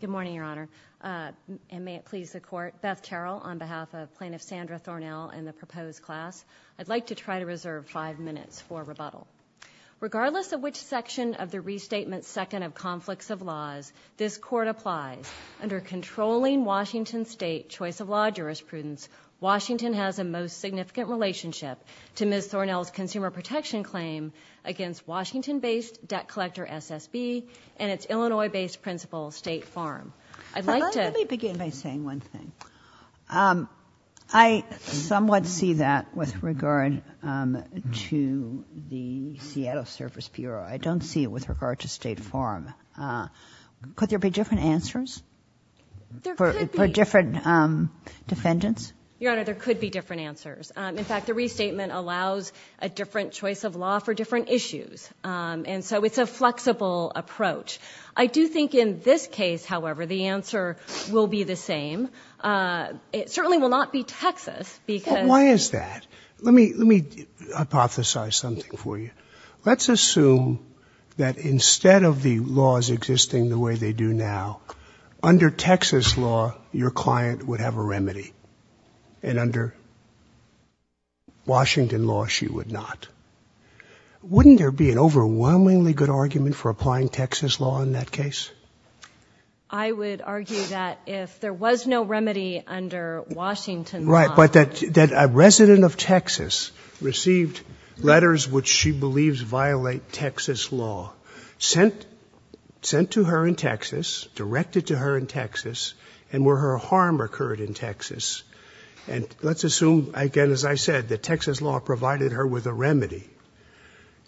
Good morning, Your Honor, and may it please the Court. Beth Terrell on behalf of Plaintiff Sandra Thornell and the proposed class. I'd like to try to reserve five minutes for rebuttal. Regardless of which section of the Restatement's second of conflicts of laws, this Court applies. Under controlling Washington State choice of law jurisprudence, Washington has a most significant relationship to Ms. Thornell's consumer protection claim against Washington-based Debt Collector, SSB, and its Illinois-based principal, State Farm. I'd like to... Let me begin by saying one thing. I somewhat see that with regard to the Seattle Service Bureau. I don't see it with regard to State Farm. Could there be different answers for different defendants? There could be. Your Honor, there could be different answers. In fact, the Restatement allows a different choice of law for different issues. And so it's a flexible approach. I do think in this case, however, the answer will be the same. It certainly will not be Texas because... Why is that? Let me hypothesize something for you. Let's assume that instead of the laws existing the way they do now, under Texas law, your client would have a remedy. And under Washington law, she would not. Wouldn't there be an overwhelmingly good argument for applying Texas law in that case? I would argue that if there was no remedy under Washington law... Right. But that a resident of Texas received letters which she believes violate Texas law, sent to her in Texas, directed to her in Texas, and where her harm occurred in Texas. And let's assume, again, as I said, that Texas law provided her with a remedy.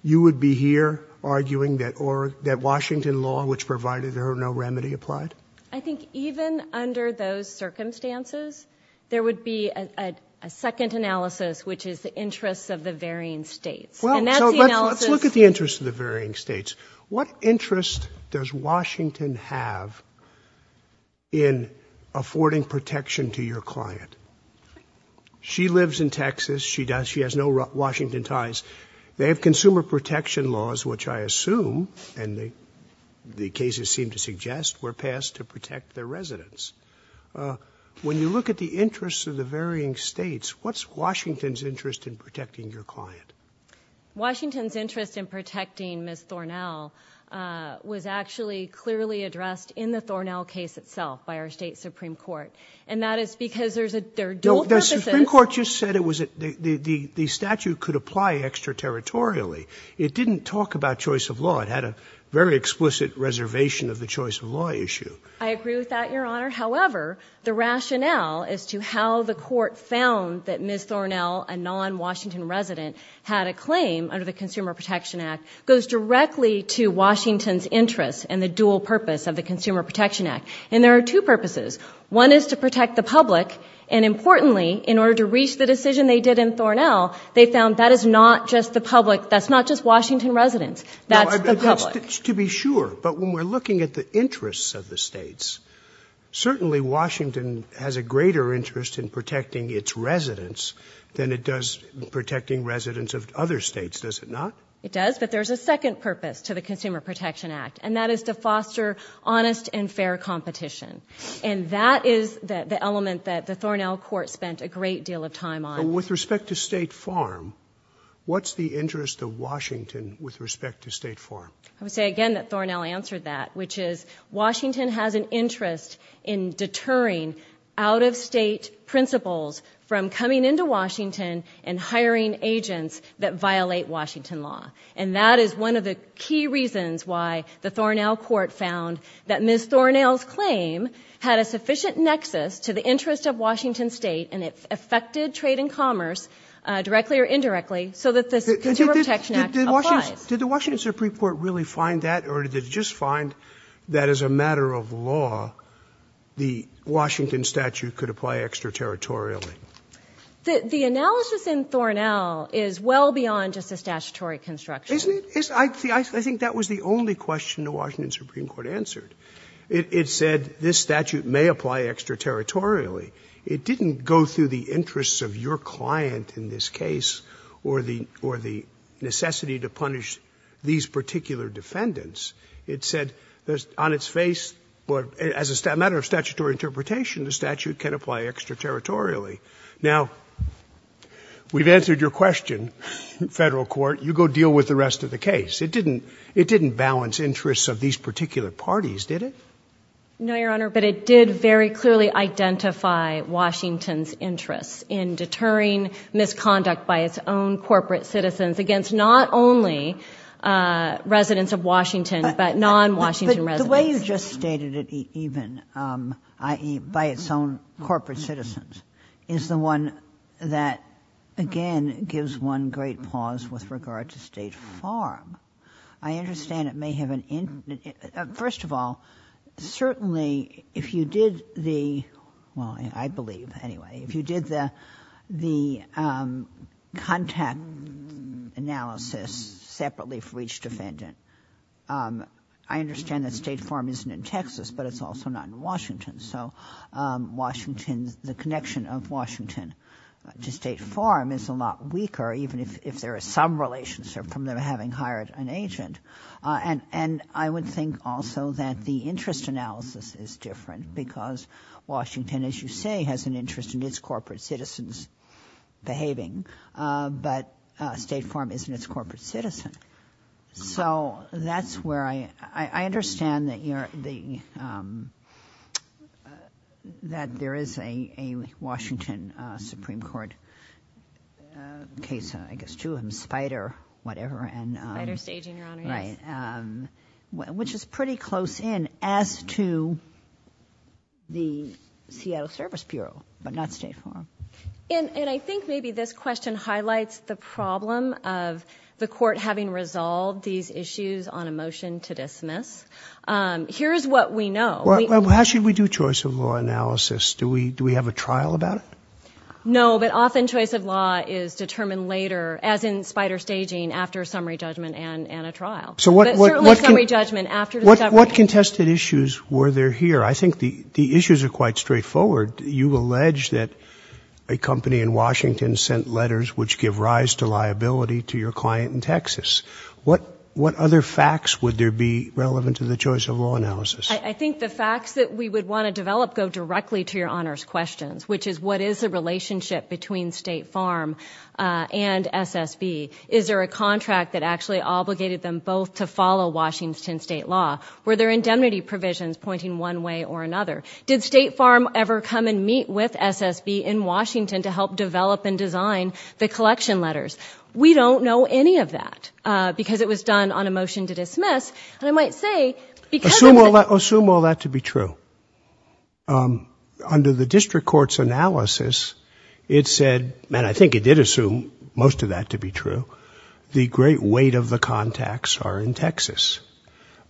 You would be here arguing that Washington law, which provided her no remedy, applied? I think even under those circumstances, there would be a second analysis, which is the interests of the varying states. And that's the analysis... Well, so let's look at the interests of the varying states. What interest does Washington have in affording protection to your client? She lives in Texas. She has no Washington ties. They have consumer protection laws, which I assume, and the cases seem to suggest, were passed to protect their residents. When you look at the interests of the varying states, what's Washington's interest in protecting your client? Washington's interest in protecting Ms. Thornell was actually clearly addressed in the Thornell case itself by our state Supreme Court. And that is because there's a... No, the Supreme Court just said it was... the statute could apply extra-territorially. It didn't talk about choice of law. It had a very explicit reservation of the choice of law issue. I agree with that, Your Honor. However, the rationale as to how the court found that Ms. Thornell had a claim under the Consumer Protection Act goes directly to Washington's interest in the dual purpose of the Consumer Protection Act. And there are two purposes. One is to protect the public. And importantly, in order to reach the decision they did in Thornell, they found that is not just the public... that's not just Washington residents. That's the public. To be sure, but when we're looking at the interests of the states, certainly Washington has a greater interest in protecting its residents than it does protecting residents of other states, does it not? It does, but there's a second purpose to the Consumer Protection Act, and that is to foster honest and fair competition. And that is the element that the Thornell court spent a great deal of time on. With respect to State Farm, what's the interest of Washington with respect to State Farm? I would say again that Thornell answered that, which is Washington has an interest in deterring out-of-state principals from coming into Washington and hiring agents that violate Washington law. And that is one of the key reasons why the Thornell court found that Ms. Thornell's claim had a sufficient nexus to the interest of Washington State, and it affected trade and commerce, directly or indirectly, so that the Consumer Protection Act applies. Did the Washington Supreme Court really find that, or did it just find that as a matter of statute could apply extraterritorially? The analysis in Thornell is well beyond just a statutory construction. Isn't it? I think that was the only question the Washington Supreme Court answered. It said this statute may apply extraterritorially. It didn't go through the interests of your client in this case or the necessity to punish these particular defendants. It said on its face, as a matter of statutory interpretation, the statute can apply extraterritorially. Now, we've answered your question, Federal Court. You go deal with the rest of the case. It didn't balance interests of these particular parties, did it? No, Your Honor, but it did very clearly identify Washington's interests in deterring misconduct by its own corporate citizens against not only residents of Washington, but non-Washington residents. The way you just stated it, even, i.e., by its own corporate citizens, is the one that, again, gives one great pause with regard to State Farm. I understand it may have an—first of all, certainly, if you did the—well, I believe, anyway, if you did the contact analysis separately for each defendant, I understand that State Farm isn't in Texas, but it's also not in Washington. So Washington's—the connection of Washington to State Farm is a lot weaker, even if there is some relationship from them having hired an agent. And I would think also that the interest analysis is different because Washington, as you say, has an interest in its corporate citizens behaving, but State Farm isn't its corporate citizen. So that's where I—I understand that there is a Washington Supreme Court case, I guess, two of them, Spider, whatever, and— Spider staging, Your Honor, yes. Which is pretty close in as to the Seattle Service Bureau, but not State Farm. And I think maybe this question highlights the problem of the court having resolved these issues on a motion to dismiss. Here's what we know. How should we do choice of law analysis? Do we have a trial about it? No, but often choice of law is determined later, as in Spider staging, after a summary judgment and a trial. Certainly a summary judgment after discovery. What contested issues were there here? I think the issues are quite straightforward. You allege that a company in Washington sent letters which give rise to liability to your client in Texas. What other facts would there be relevant to the choice of law analysis? I think the facts that we would want to develop go directly to Your Honor's questions, which is what is the relationship between State Farm and SSB? Is there a contract that actually obligated them both to follow Washington state law? Were there indemnity provisions pointing one way or another? Did State Farm ever come and meet with SSB in Washington to help develop and design the collection letters? We don't know any of that because it was done on a motion to dismiss, and I might say— Assume all that to be true. Under the district court's analysis, it said—and I think it did assume most of that to be true—the great weight of the contacts are in Texas,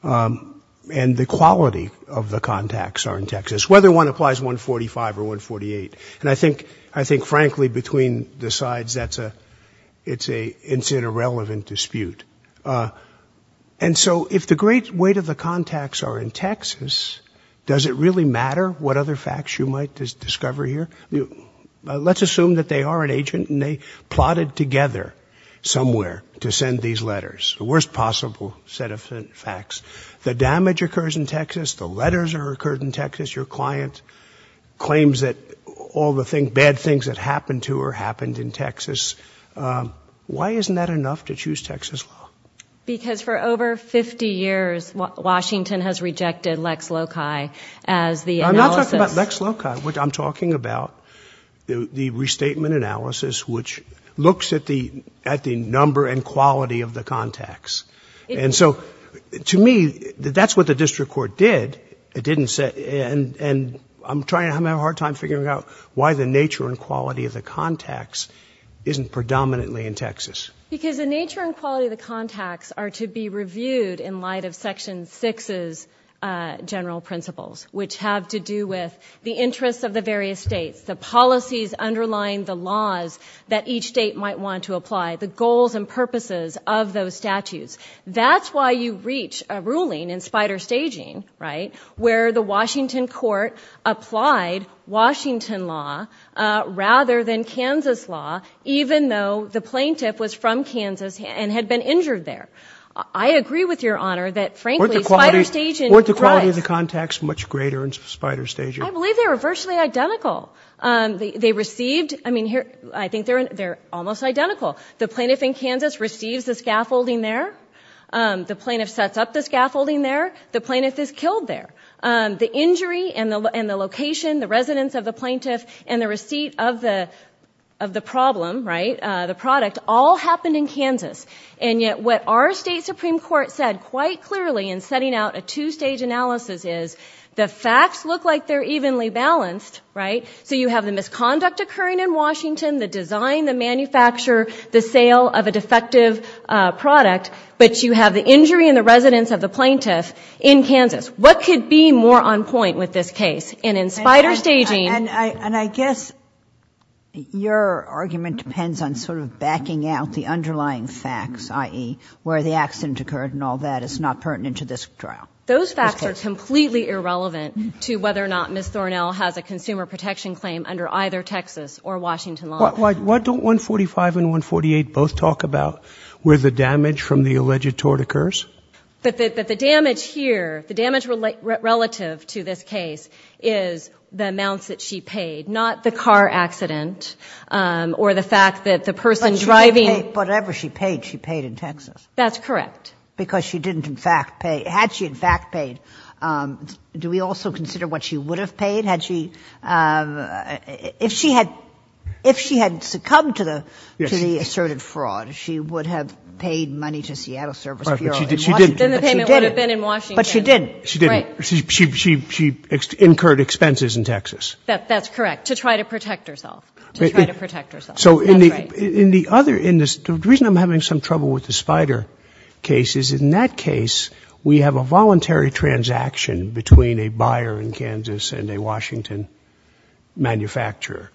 and the quality of the contacts are in Texas, whether one applies 145 or 148. And I think, frankly, between the sides, it's an irrelevant dispute. And so if the great weight of the contacts are in Texas, does it really matter what other facts you might discover here? Let's assume that they are an agent and they plotted together somewhere to send these letters, the worst possible set of facts. The damage occurs in Texas. The letters are occurred in Texas. Your client claims that all the bad things that happened to her happened in Texas. Why isn't that enough to choose Texas law? Because for over 50 years, Washington has rejected Lex Loci as the analysis— I'm not talking about Lex Loci. I'm talking about the restatement analysis, which looks at the number and quality of the contacts. And so to me, that's what the district court did. It didn't say—and I'm trying—I'm having a hard time figuring out why the nature and quality of the contacts are to be reviewed in light of Section 6's general principles, which have to do with the interests of the various states, the policies underlying the laws that each state might want to apply, the goals and purposes of those statutes. That's why you reach a ruling in spider staging, right, where the Washington court applied Washington law rather than Kansas law, even though the plaintiff was from Kansas and had been injured there. I agree with Your Honor that, frankly, spider staging— Weren't the quality of the contacts much greater in spider staging? I believe they were virtually identical. They received—I mean, I think they're almost identical. The plaintiff in Kansas receives the scaffolding there. The plaintiff sets up the scaffolding there. The plaintiff is killed there. The injury and the location, the residence of the plaintiff, and the receipt of the problem, right, the product, all happened in Kansas. And yet what our state Supreme Court said quite clearly in setting out a two-stage analysis is the facts look like they're evenly balanced, right? So you have the misconduct occurring in Washington, the design, the manufacture, the sale of a defective product, but you have the injury and the residence of the plaintiff in Kansas. What could be more on point with this case? And in spider staging— And I guess your argument depends on sort of backing out the underlying facts, i.e., where the accident occurred and all that is not pertinent to this trial. Those facts are completely irrelevant to whether or not Ms. Thornell has a consumer protection claim under either Texas or Washington law. Why don't 145 and 148 both talk about where the damage from the alleged tort occurs? But the damage here, the damage relative to this case is the amounts that she paid, not the car accident or the fact that the person driving— Whatever she paid, she paid in Texas. That's correct. Because she didn't in fact pay—had she in fact paid, do we also consider what she would have paid? Had she—if she had succumbed to the asserted fraud, she would have paid money to Seattle Service Bureau. Then the payment would have been in Washington. But she didn't. She didn't. She incurred expenses in Texas. That's correct. To try to protect herself. To try to protect herself. So in the other—the reason I'm having some trouble with the spider case is in that case, we have a voluntary transaction between a buyer in Kansas and a Washington manufacturer.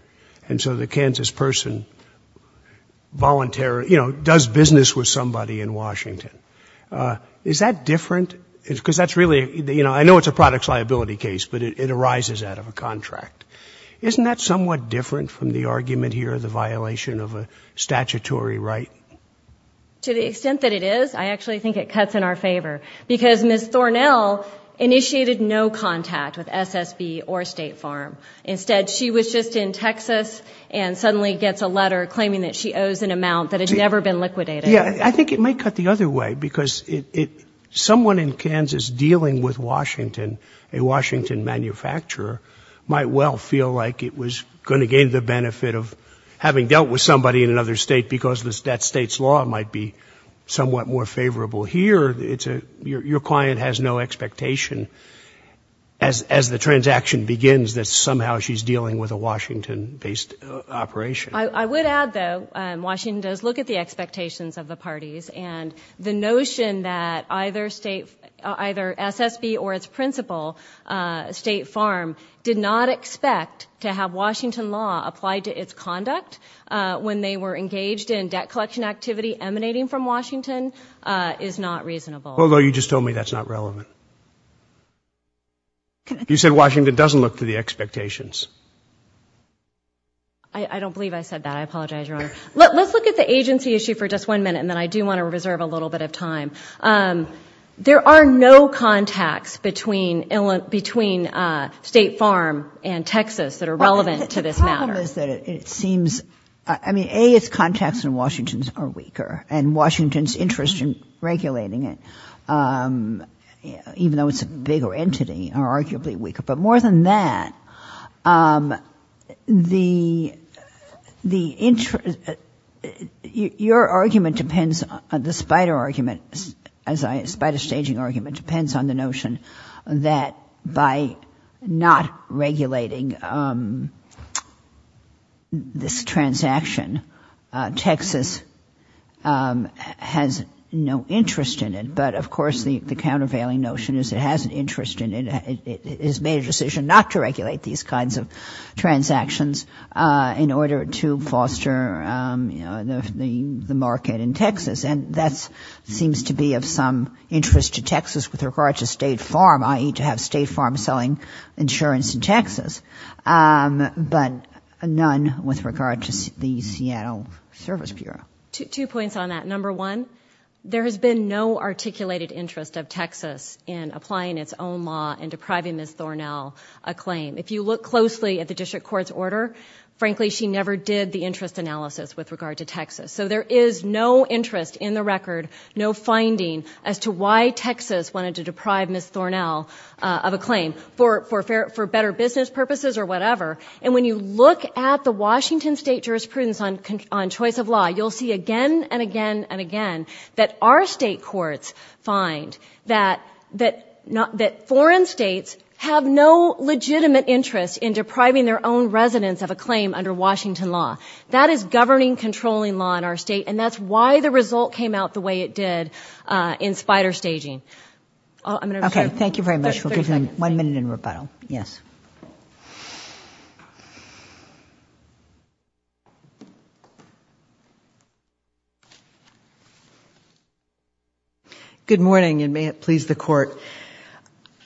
And so the Kansas person voluntarily, you know, does business with somebody in Washington. Is that different? Because that's really—you know, I know it's a products liability case, but it arises out of a contract. Isn't that somewhat different from the argument here, the violation of a statutory right? To the extent that it is, I actually think it cuts in our favor. Because Ms. Thornell initiated no contact with SSB or State Farm. Instead, she was just in Texas and suddenly gets a letter claiming that she owes an amount that had never been liquidated. I think it might cut the other way. Because someone in Kansas dealing with Washington, a Washington manufacturer, might well feel like it was going to gain the benefit of having dealt with somebody in another state because that state's law might be somewhat more favorable here. Your client has no expectation, as the transaction begins, that somehow she's dealing with a Washington-based operation. I would add, though, Washington does look at the expectations of the parties. And the notion that either SSB or its principal, State Farm, did not expect to have Washington law applied to its conduct when they were engaged in debt collection activity emanating from Washington is not reasonable. Although you just told me that's not relevant. You said Washington doesn't look to the expectations. I don't believe I said that. I apologize, Your Honor. Let's look at the agency issue for just one minute. And then I do want to reserve a little bit of time. There are no contacts between State Farm and Texas that are relevant to this matter. The problem is that it seems, I mean, A, its contacts in Washington are weaker. And Washington's interest in regulating it, even though it's a bigger entity, are arguably weaker. But more than that, your argument depends, the spider argument, spider staging argument, depends on the notion that by not regulating this transaction, Texas has no interest in it. Of course, the countervailing notion is it has an interest in it. It has made a decision not to regulate these kinds of transactions in order to foster the market in Texas. And that seems to be of some interest to Texas with regard to State Farm, i.e., to have State Farm selling insurance in Texas. But none with regard to the Seattle Service Bureau. Two points on that. Number one, there has been no articulated interest of Texas in applying its own law and depriving Ms. Thornell a claim. If you look closely at the district court's order, frankly, she never did the interest analysis with regard to Texas. So there is no interest in the record, no finding as to why Texas wanted to deprive Ms. Thornell of a claim for better business purposes or whatever. And when you look at the Washington State jurisprudence on choice of law, you'll see and again and again and again that our state courts find that foreign states have no legitimate interest in depriving their own residents of a claim under Washington law. That is governing, controlling law in our state. And that's why the result came out the way it did in spider staging. Okay. Thank you very much. We'll give you one minute in rebuttal. Yes. Good morning and may it please the court.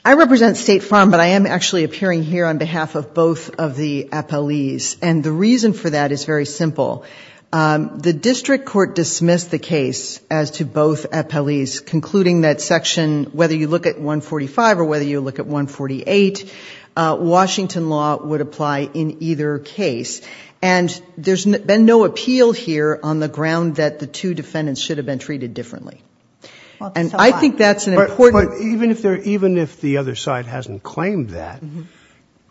I represent State Farm, but I am actually appearing here on behalf of both of the appellees. And the reason for that is very simple. The district court dismissed the case as to both appellees, concluding that section, whether you look at 145 or whether you look at 148, Washington law would apply in either case. And there's been no appeal here on the ground that the two defendants should have been treated differently. And I think that's an important point. Even if the other side hasn't claimed that,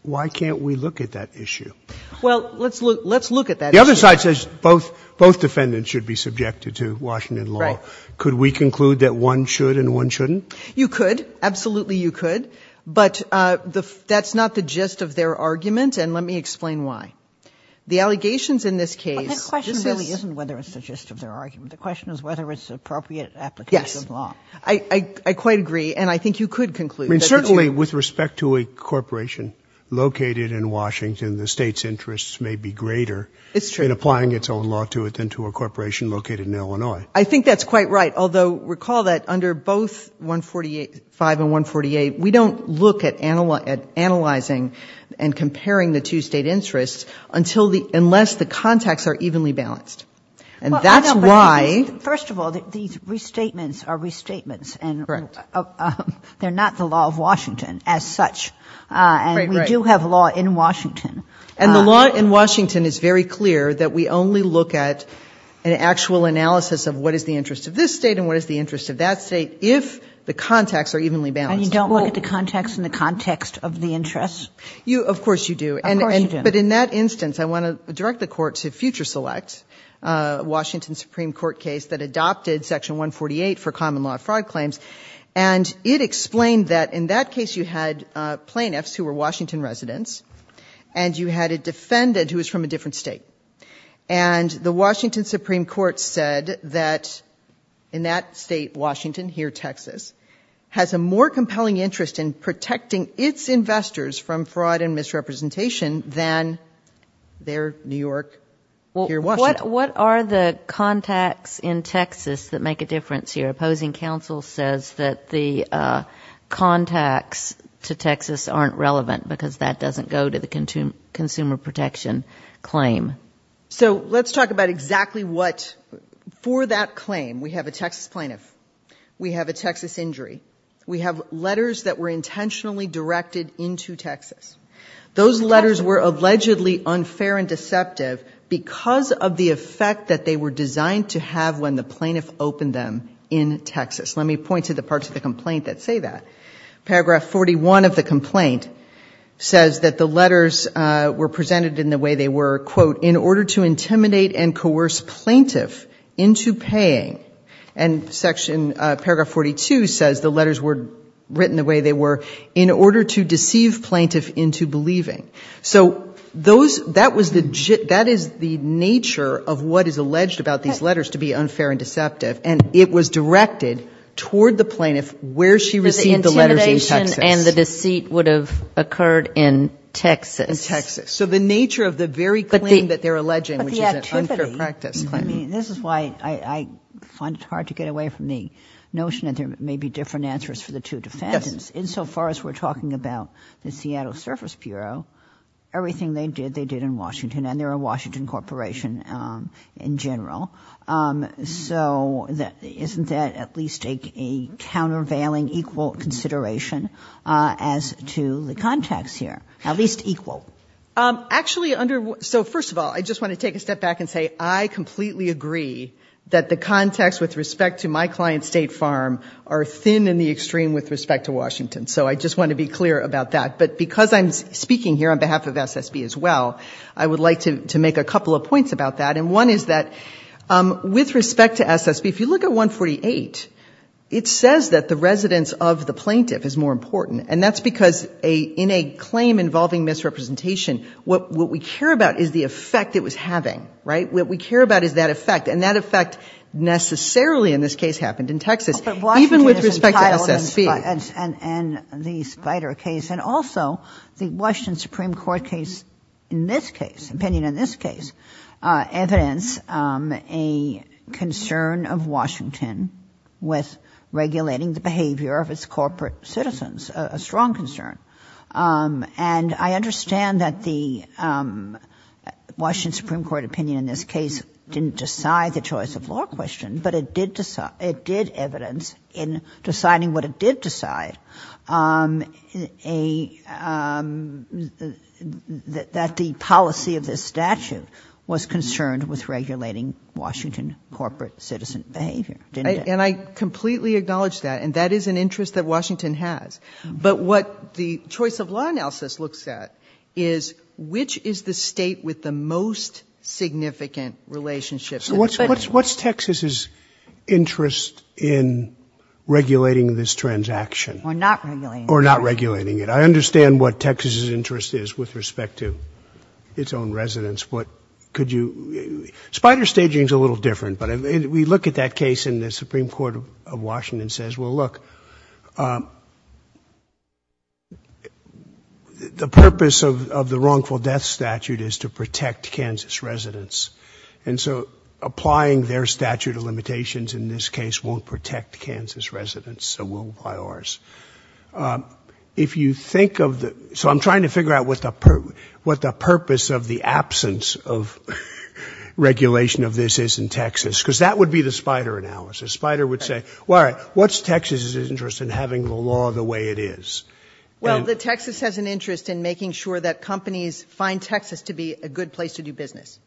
why can't we look at that issue? Well, let's look at that issue. The other side says both defendants should be subjected to Washington law. Could we conclude that one should and one shouldn't? You could. Absolutely. You could. But that's not the gist of their argument. And let me explain why. The allegations in this case. The question really isn't whether it's the gist of their argument. The question is whether it's appropriate application of law. I quite agree. And I think you could conclude that. And certainly with respect to a corporation located in Washington, the state's interests may be greater in applying its own law to it than to a corporation located in Illinois. I think that's quite right. Although, recall that under both 148, 5 and 148, we don't look at analyzing and comparing the two state interests until the, unless the contacts are evenly balanced. And that's why. First of all, these restatements are restatements. And they're not the law of Washington as such. And we do have law in Washington. And the law in Washington is very clear that we only look at an actual analysis of what is the interest of this state and what is the interest of that state if the contacts are evenly balanced. And you don't look at the contacts in the context of the interests? You, of course you do. Of course you do. But in that instance, I want to direct the court to Future Select, a Washington Supreme Court case that adopted section 148 for common law fraud claims. And it explained that in that case, you had plaintiffs who were Washington residents. And you had a defendant who was from a different state. And the Washington Supreme Court said that in that state, Washington, here, Texas, has a more compelling interest in protecting its investors from fraud and misrepresentation than their New York, here, Washington. What are the contacts in Texas that make a difference here? Opposing counsel says that the contacts to Texas aren't relevant because that doesn't go to the consumer protection claim. So let's talk about exactly what for that claim. We have a Texas plaintiff. We have a Texas injury. We have letters that were intentionally directed into Texas. Those letters were allegedly unfair and deceptive because of the effect that they were designed to have when the plaintiff opened them in Texas. Let me point to the parts of the complaint that say that. Paragraph 41 of the complaint says that the letters were presented in the way they were, quote, in order to intimidate and coerce plaintiff into paying. And paragraph 42 says the letters were written the way they were in order to deceive plaintiff into believing. So that is the nature of what is alleged about these letters to be unfair and deceptive. And it was directed toward the plaintiff where she received the letters in Texas. The intimidation and the deceit would have occurred in Texas. In Texas. So the nature of the very claim that they're alleging, which is an unfair practice claim. This is why I find it hard to get away from the notion that there may be different answers for the two defendants. Insofar as we're talking about the Seattle Surface Bureau, everything they did, they did in Washington. And they're a Washington corporation in general. So isn't that at least a countervailing equal consideration as to the context here? At least equal. Actually, so first of all, I just want to take a step back and say I completely agree that the context with respect to my client State Farm are thin in the extreme with respect to Washington. So I just want to be clear about that. But because I'm speaking here on behalf of SSB as well, I would like to make a couple of points about that. And one is that with respect to SSB, if you look at 148, it says that the residence of the plaintiff is more important. And that's because in a claim involving misrepresentation, what we care about is the effect it was having, right? What we care about is that effect. And that effect necessarily in this case happened in Texas, even with respect to SSB. But Washington is entitled in the Spider case and also the Washington Supreme Court case in this case, opinion in this case. Evidence, a concern of Washington with regulating the behavior of its corporate citizens, a strong concern. And I understand that the Washington Supreme Court opinion in this case didn't decide the choice of law question, but it did. It did evidence in deciding what it did decide. Um, a, um, that, that the policy of this statute was concerned with regulating Washington corporate citizen behavior. And I completely acknowledge that. And that is an interest that Washington has. But what the choice of law analysis looks at is which is the state with the most significant relationship. So what's, what's, what's Texas's interest in regulating this transaction? Or not regulating it. I understand what Texas's interest is with respect to its own residents. What could you, Spider staging is a little different, but we look at that case in the Supreme Court of Washington says, well, look, um, the purpose of, of the wrongful death statute is to protect Kansas residents. And so applying their statute of limitations in this case won't protect Kansas residents. So we'll apply ours. Um, if you think of the, so I'm trying to figure out what the, what the purpose of the absence of regulation of this is in Texas, because that would be the spider analysis. Spider would say, well, what's Texas's interest in having the law the way it is? Well, the Texas has an interest in making sure that companies find Texas to be a good place to do business.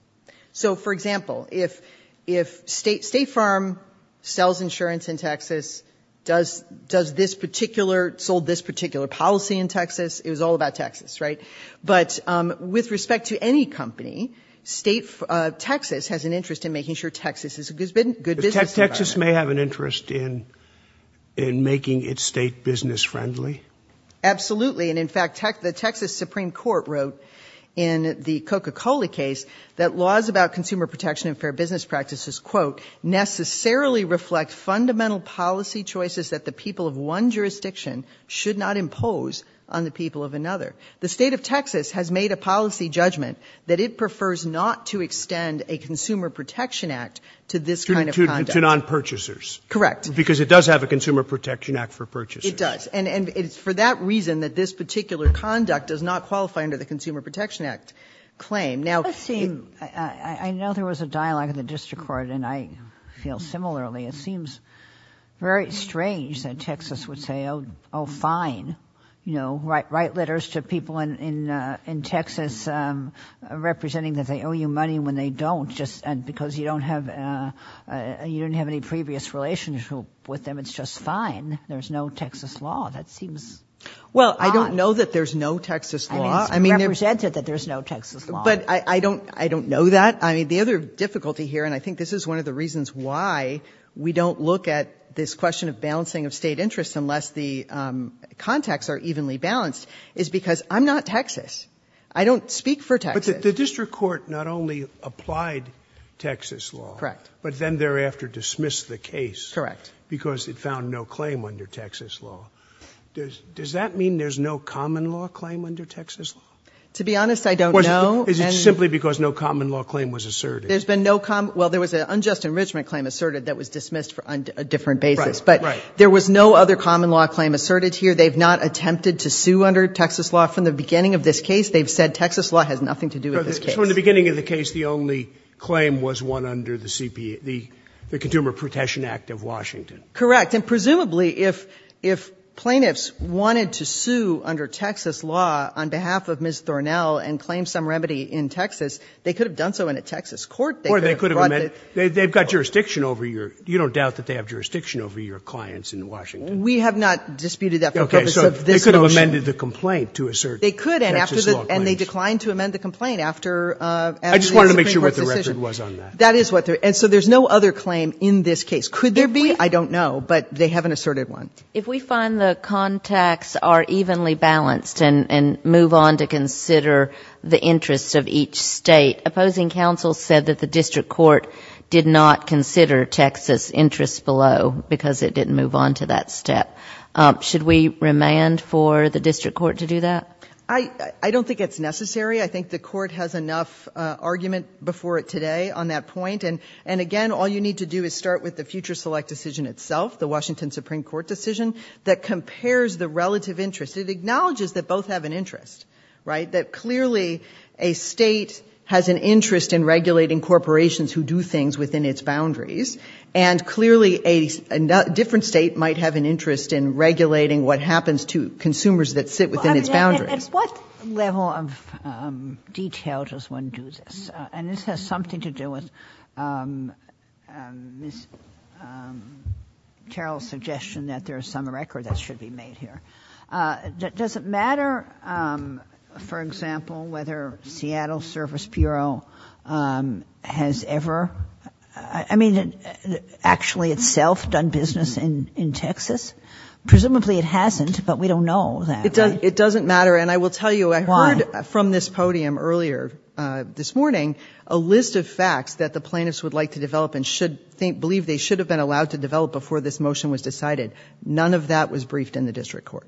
So for example, if, if state, state farm sells insurance in Texas, does, does this particular sold this particular policy in Texas? It was all about Texas, right? But, um, with respect to any company, state, uh, Texas has an interest in making sure Texas has been good business. Texas may have an interest in, in making it state business friendly. Absolutely. And in fact, tech, the Texas Supreme court wrote in the Coca-Cola case that laws about consumer protection and fair business practices, quote, necessarily reflect fundamental policy choices that the people of one jurisdiction should not impose on the people of another. The state of Texas has made a policy judgment that it prefers not to extend a consumer protection act to this kind of non-purchasers. Correct. Because it does have a consumer protection act for purchase. And it's for that reason that this particular conduct does not qualify under the consumer protection act claim. Now, I know there was a dialogue in the district court and I feel similarly, it seems very strange that Texas would say, Oh, Oh, fine. You know, right. Write letters to people in, in, uh, in Texas, um, representing that they owe you money when they don't just, and because you don't have, uh, uh, you didn't have any previous relationship with them. It's just fine. There's no Texas law. That seems. Well, I don't know that there's no Texas law. I mean, it's represented that there's no Texas law. But I don't, I don't know that. I mean, the other difficulty here, and I think this is one of the reasons why we don't look at this question of balancing of state interests unless the, um, contexts are evenly balanced is because I'm not Texas. I don't speak for Texas. The district court not only applied Texas law, but then thereafter dismissed the case because it found no claim under Texas law. Does that mean there's no common law claim under Texas law? To be honest, I don't know. Is it simply because no common law claim was asserted? There's been no common, well, there was an unjust enrichment claim asserted that was dismissed for a different basis, but there was no other common law claim asserted here. They've not attempted to sue under Texas law from the beginning of this case. They've said Texas law has nothing to do with this case. From the beginning of the case, the only claim was one under the CPA, the consumer protection act of Washington. Correct. And presumably if, if plaintiffs wanted to sue under Texas law on behalf of Ms. Thornell and claim some remedy in Texas, they could have done so in a Texas court. Or they could have, they've got jurisdiction over your, you don't doubt that they have jurisdiction over your clients in Washington. We have not disputed that. Okay. So they could have amended the complaint to assert. They could. And after that, and they declined to amend the complaint after, uh, I just wanted to make sure what the record was on that. That is what they're. And so there's no other claim in this case. Could there be? I don't know, but they haven't asserted one. If we find the contacts are evenly balanced and, and move on to consider the interests of each state, opposing counsel said that the district court did not consider Texas interests below because it didn't move on to that step. Um, should we remand for the district court to do that? I, I don't think it's necessary. I think the court has enough, uh, argument before it today on that point. And, and again, all you need to do is start with the future select decision itself, the Washington Supreme court decision that compares the relative interest. It acknowledges that both have an interest, right? That clearly a state has an interest in regulating corporations who do things within its boundaries. And clearly a different state might have an interest in regulating what happens to consumers that sit within its boundaries. What level of, um, detail does one do this? And this has something to do with, um, um, Miss, um, Carol's suggestion that there is some record that should be made here. Uh, does it matter? Um, for example, whether Seattle service Bureau, um, has ever, I mean, actually itself done business in, in Texas. Presumably it hasn't, but we don't know that. It doesn't matter. And I will tell you, I heard from this podium earlier, uh, this morning, a list of facts that the plaintiffs would like to develop and should think, believe they should have been allowed to develop before this motion was decided. None of that was briefed in the district court.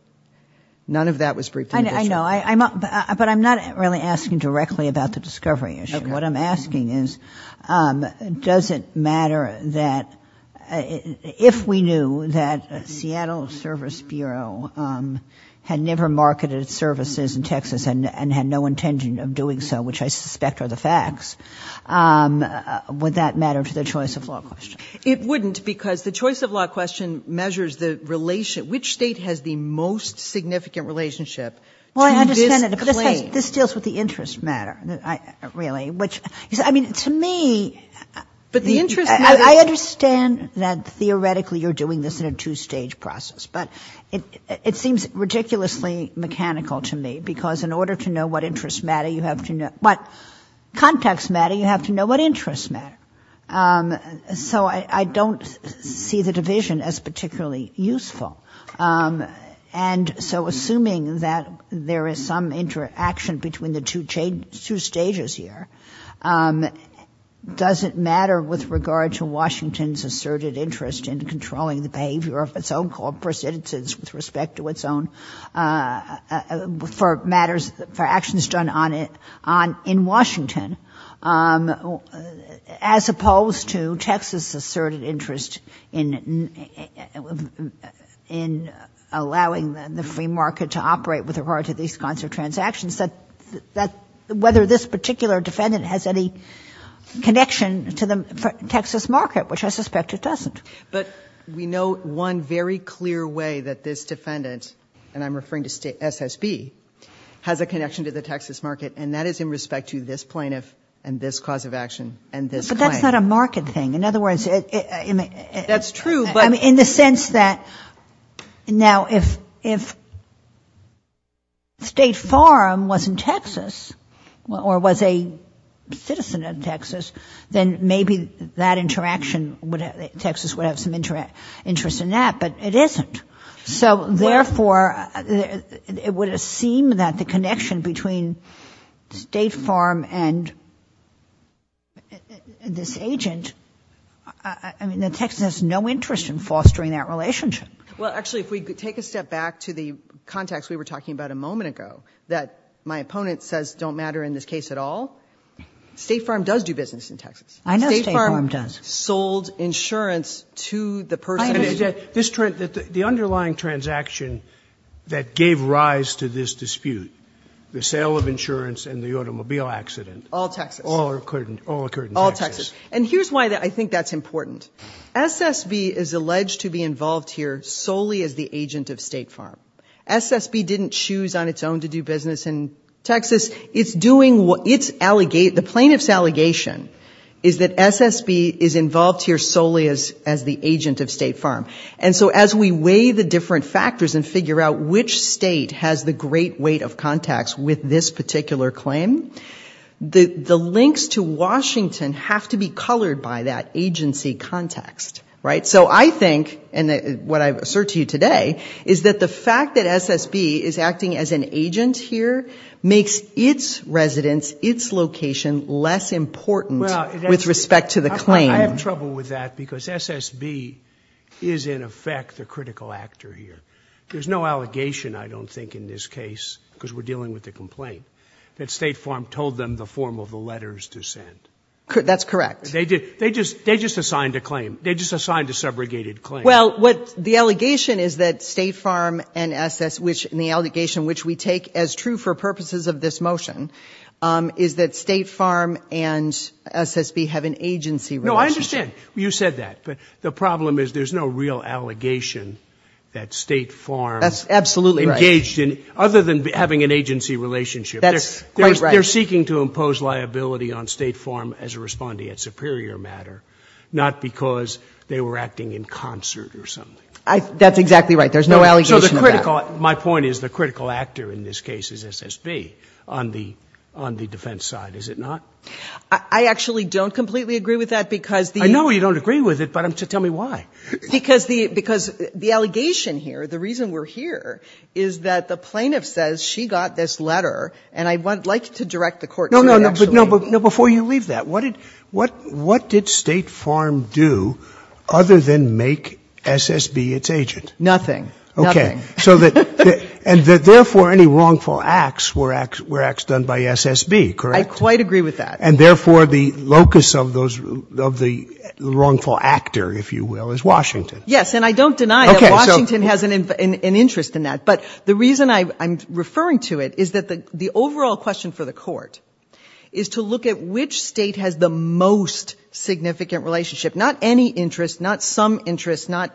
None of that was briefed. I know, but I'm not really asking directly about the discovery issue. What I'm asking is, um, does it matter that if we knew that Seattle service Bureau, um, had never marketed services in Texas and, and had no intention of doing so, which I suspect are the facts, um, would that matter to the choice of law question? It wouldn't because the choice of law question measures the relation, which state has the most significant relationship. Well, I understand that this deals with the interest matter that I really, which is, I mean, to me, but the interest, I understand that theoretically you're doing this in a two stage process, but it, it seems ridiculously mechanical to me because in order to know what interests matter, you have to know what context matter, you have to know what interests matter. Um, so I, I don't see the division as particularly useful. Um, and so assuming that there is some interaction between the two chain, two stages here, um, does it matter with regard to Washington's asserted interest in controlling the behavior of its own corporate citizens with respect to its own, uh, uh, for matters, for actions done on it, on in Washington, um, as opposed to Texas asserted interest in, in allowing the free market to operate with regard to these kinds of transactions that, that whether particular defendant has any connection to the Texas market, which I suspect it doesn't. But we know one very clear way that this defendant, and I'm referring to SSB, has a connection to the Texas market, and that is in respect to this plaintiff and this cause of action and this claim. But that's not a market thing. In other words, in a, in a... That's true, but... Or was a citizen of Texas, then maybe that interaction would, Texas would have some interest in that, but it isn't. So therefore, it would seem that the connection between State Farm and this agent, I mean, that Texas has no interest in fostering that relationship. Well, actually, if we take a step back to the context we were talking about a moment ago, that my opponent says don't matter in this case at all, State Farm does do business in Texas. I know State Farm does. State Farm sold insurance to the person... I understand. This, the underlying transaction that gave rise to this dispute, the sale of insurance and the automobile accident... All Texas. All occurred in Texas. All Texas. And here's why I think that's important. SSB is alleged to be involved here solely as the agent of State Farm. SSB didn't choose on its own to do business in Texas. It's doing what... It's allegate... The plaintiff's allegation is that SSB is involved here solely as, as the agent of State Farm. And so as we weigh the different factors and figure out which state has the great weight of contacts with this particular claim, the, the links to Washington have to be colored by that agency context, right? So I think, and what I assert to you today is that the fact that SSB is acting as an agent here makes its residence, its location less important with respect to the claim. I have trouble with that because SSB is in effect the critical actor here. There's no allegation, I don't think in this case, because we're dealing with the complaint, that State Farm told them the form of the letters to send. That's correct. They did. They just, they just assigned a claim. They just assigned a subrogated claim. Well, what the allegation is that State Farm and SS, which in the allegation which we take as true for purposes of this motion, is that State Farm and SSB have an agency relationship. No, I understand. You said that. But the problem is there's no real allegation that State Farm... That's absolutely right. ...engaged in, other than having an agency relationship. That's quite right. They're seeking to impose liability on State Farm as a respondee at superior matter, not because they were acting in concert or something. That's exactly right. There's no allegation of that. My point is the critical actor in this case is SSB on the defense side, is it not? I actually don't completely agree with that because the... I know you don't agree with it, but tell me why. Because the allegation here, the reason we're here, is that the plaintiff says she got this letter and I'd like to direct the court to it actually. Before you leave that, what did State Farm do other than make SSB its agent? Nothing, nothing. Okay, and therefore any wrongful acts were acts done by SSB, correct? I quite agree with that. And therefore the locus of the wrongful actor, if you will, is Washington. Yes, and I don't deny that Washington has an interest in that, but the reason I'm referring to it is that the overall question for the court is to look at which state has the most significant relationship, not any interest, not some interest, not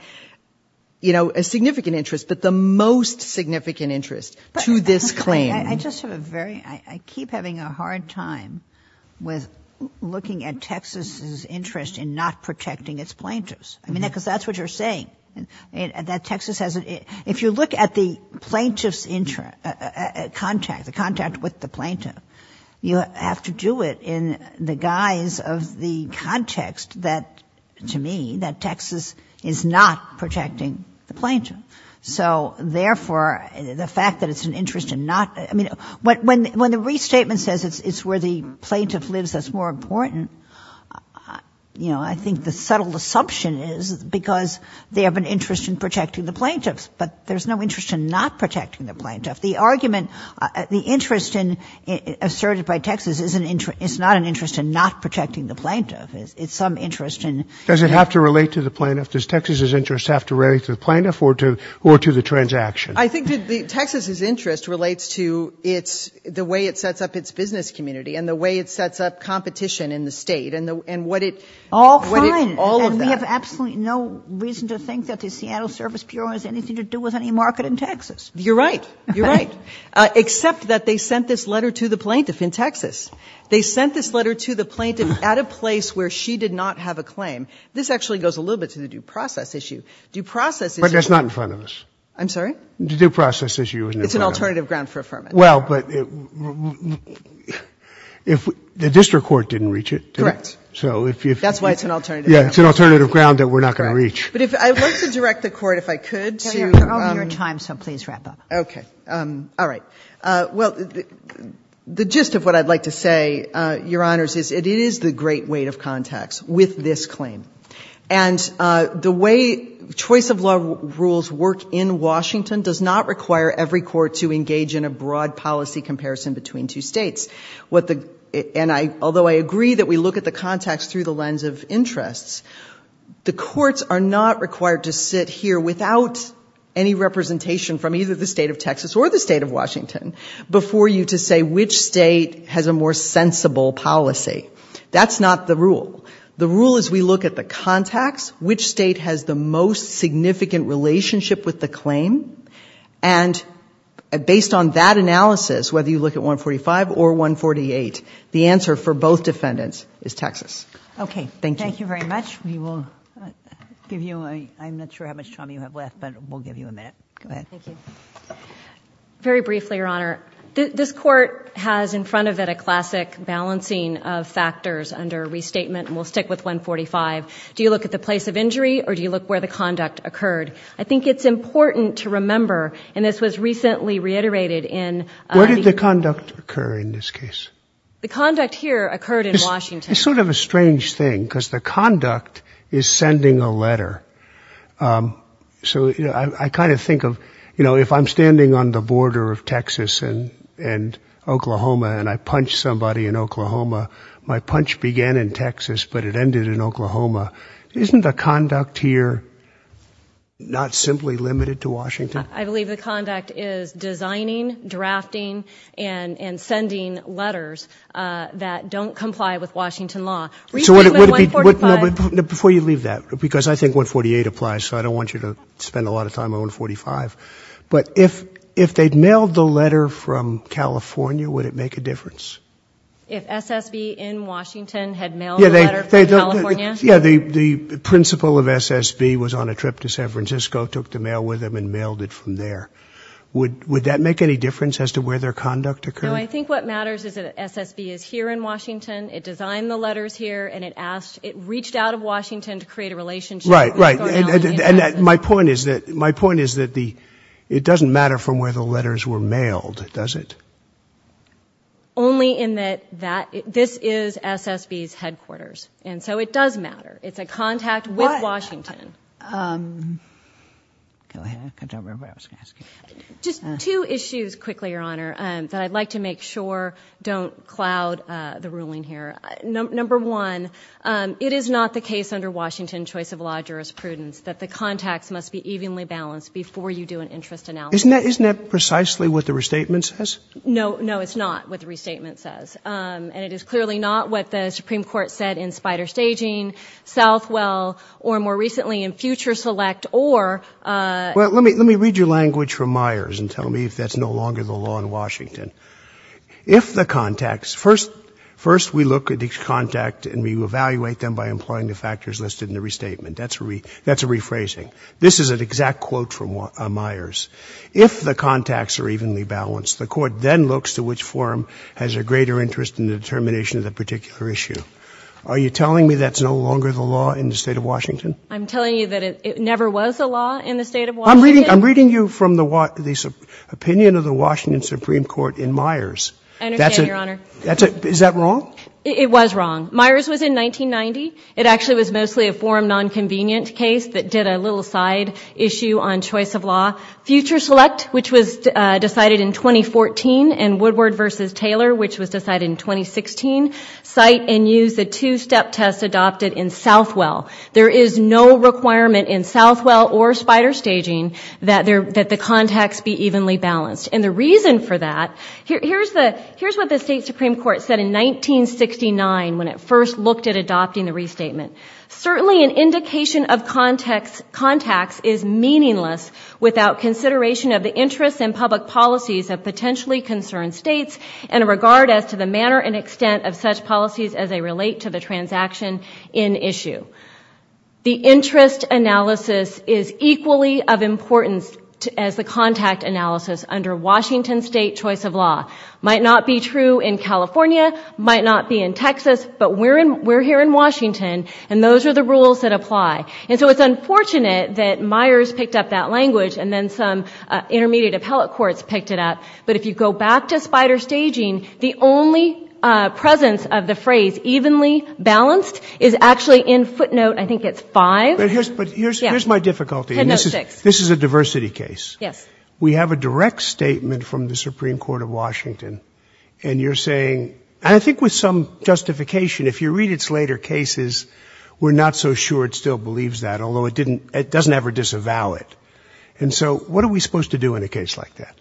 a significant interest, but the most significant interest to this claim. I just have a very... I keep having a hard time with looking at Texas's interest in not protecting its plaintiffs. I mean, because that's what you're saying, that Texas hasn't... If you look at the plaintiff's contact, the contact with the plaintiff, you have to do it in the guise of the context that, to me, that Texas is not protecting the plaintiff. So therefore, the fact that it's an interest in not... I mean, when the restatement says it's where the plaintiff lives that's more important, you know, I think the subtle assumption is because they have an interest in protecting the plaintiffs, but there's no interest in not protecting the plaintiff. The argument... The interest asserted by Texas is not an interest in not protecting the plaintiff. It's some interest in... Does it have to relate to the plaintiff? Does Texas's interest have to relate to the plaintiff or to the transaction? I think that Texas's interest relates to the way it sets up its business community and the way it sets up competition in the state and what it... All fine. All of that. And we have absolutely no reason to think that the Seattle Service Bureau has anything to do with any market in Texas. You're right. You're right. Except that they sent this letter to the plaintiff in Texas. They sent this letter to the plaintiff at a place where she did not have a claim. This actually goes a little bit to the due process issue. Due process issue... But that's not in front of us. I'm sorry? The due process issue... It's an alternative ground for affirmation. Well, but if the district court didn't reach it... Correct. So if you... That's why it's an alternative... Yeah, it's an alternative ground that we're not going to reach. But if... I'd like to direct the Court, if I could, to... You're over your time, so please wrap up. Okay. All right. Well, the gist of what I'd like to say, Your Honors, is it is the great weight of context with this claim. And the way choice of law rules work in Washington does not require every court to engage in a broad policy comparison between two states. And although I agree that we look at the context through the lens of interests, the courts are not required to sit here without any representation from either the State of Texas or the State of Washington before you to say which state has a more sensible policy. That's not the rule. The rule is we look at the context, which state has the most significant relationship with the claim. And based on that analysis, whether you look at 145 or 148, the answer for both defendants is Texas. Okay. Thank you. Thank you very much. We will give you a... I'm not sure how much time you have left, but we'll give you a minute. Go ahead. Thank you. Very briefly, Your Honor, this Court has in front of it a classic balancing of factors under restatement, and we'll stick with 145. Do you look at the place of injury or do you look where the conduct occurred? I think it's important to remember, and this was recently reiterated in... Where did the conduct occur in this case? The conduct here occurred in Washington. It's sort of a strange thing because the conduct is sending a letter. So I kind of think of, you know, if I'm standing on the border of Texas and Oklahoma and I punch somebody in Oklahoma, my punch began in Texas, but it ended in Oklahoma. Isn't the conduct here not simply limited to Washington? I believe the conduct is designing, drafting, and sending letters that don't comply with Washington law. Before you leave that, because I think 148 applies, so I don't want you to spend a lot of time on 145, but if they'd mailed the letter from California, would it make a difference? If SSB in Washington had mailed the letter from California? Yeah, the principal of SSB was on a trip to San Francisco, took the mail with him, and mailed it from there. Would that make any difference as to where their conduct occurred? No, I think what matters is that SSB is here in Washington, it designed the letters here, and it reached out of Washington to create a relationship. Right, right, and my point is that it doesn't matter from where the letters were mailed, does it? Only in that this is SSB's headquarters, and so it does matter. It's a contact with Washington. What? Go ahead, I can't remember what I was going to ask you. Just two issues quickly, Your Honor, that I'd like to make sure don't cloud the ruling here. Number one, it is not the case under Washington choice of law jurisprudence that the contacts must be evenly balanced before you do an interest analysis. Isn't that precisely what the restatement says? No, no, it's not what the restatement says, and it is clearly not what the Supreme Court said in Spider Staging, Southwell, or more recently in Future Select, or... Well, let me read your language from Myers and tell me if that's no longer the law in Washington. If the contacts, first we look at each contact and we evaluate them by employing the factors listed in the restatement, that's a rephrasing. This is an exact quote from Myers. If the contacts are evenly balanced, the court then looks to which forum has a greater interest in the determination of the particular issue. Are you telling me that's no longer the law in the state of Washington? I'm telling you that it never was a law in the state of Washington. I'm reading you from the opinion of the Washington Supreme Court in Myers. I understand, Your Honor. Is that wrong? It was wrong. Myers was in 1990. It actually was mostly a forum nonconvenient case that did a little side issue on choice of law. Future Select, which was decided in 2014, and Woodward versus Taylor, which was decided in 2016, cite and use the two-step test adopted in Southwell. There is no requirement in Southwell or spider staging that the contacts be evenly balanced. And the reason for that, here's what the state Supreme Court said in 1969 when it first looked at adopting the restatement. Certainly, an indication of contacts is meaningless without consideration of the interests and public policies of potentially concerned states and a regard as to the manner and extent of such policies as they relate to the transaction in issue. The interest analysis is equally of importance as the contact analysis under Washington state choice of law. Might not be true in California, might not be in Texas, but we're here in Washington and those are the rules that apply. And so it's unfortunate that Myers picked up that language and then some intermediate appellate courts picked it up. But if you go back to spider staging, the only presence of the phrase evenly balanced is actually in footnote, I think it's five. But here's my difficulty. This is a diversity case. Yes. We have a direct statement from the Supreme Court of Washington and you're saying, I think with some justification, if you read its later cases, we're not so sure it still believes that, although it didn't, it doesn't ever disavow it. And so what are we supposed to do in a case like that?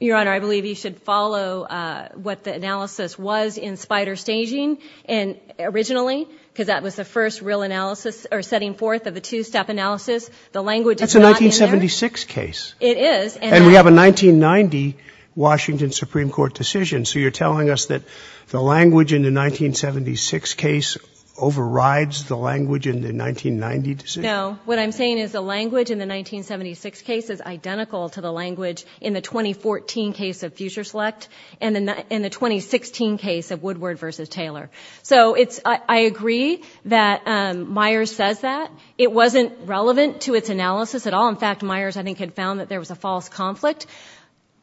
Your Honor, I believe you should follow what the analysis was in spider staging and originally, because that was the first real analysis or setting forth of a two-step analysis. The language. It's a 1976 case. It is. And we have a 1990 Washington Supreme Court decision. So you're telling us that the language in the 1976 case overrides the language in the 1990 decision? No. What I'm saying is the language in the 1976 case is identical to the language in the 2014 case of future select and in the 2016 case of Woodward versus Taylor. So I agree that Myers says that. It wasn't relevant to its analysis at all. In fact, Myers, I think, had found that there was a false conflict.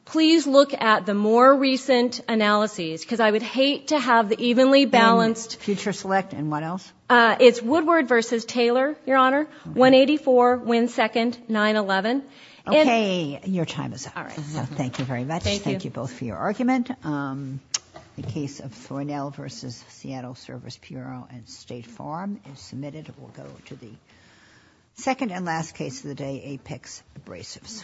Please look at the more recent analyses because I would hate to have the evenly balanced. Future select and what else? It's Woodward versus Taylor, Your Honor. 184, Wynn second, 9-11. Okay. Your time is up. All right. So thank you very much. Thank you both for your argument. The case of Thornell versus Seattle Service Bureau and State Farm is submitted. We'll go to the second and last case of the day, Apex Abrasives.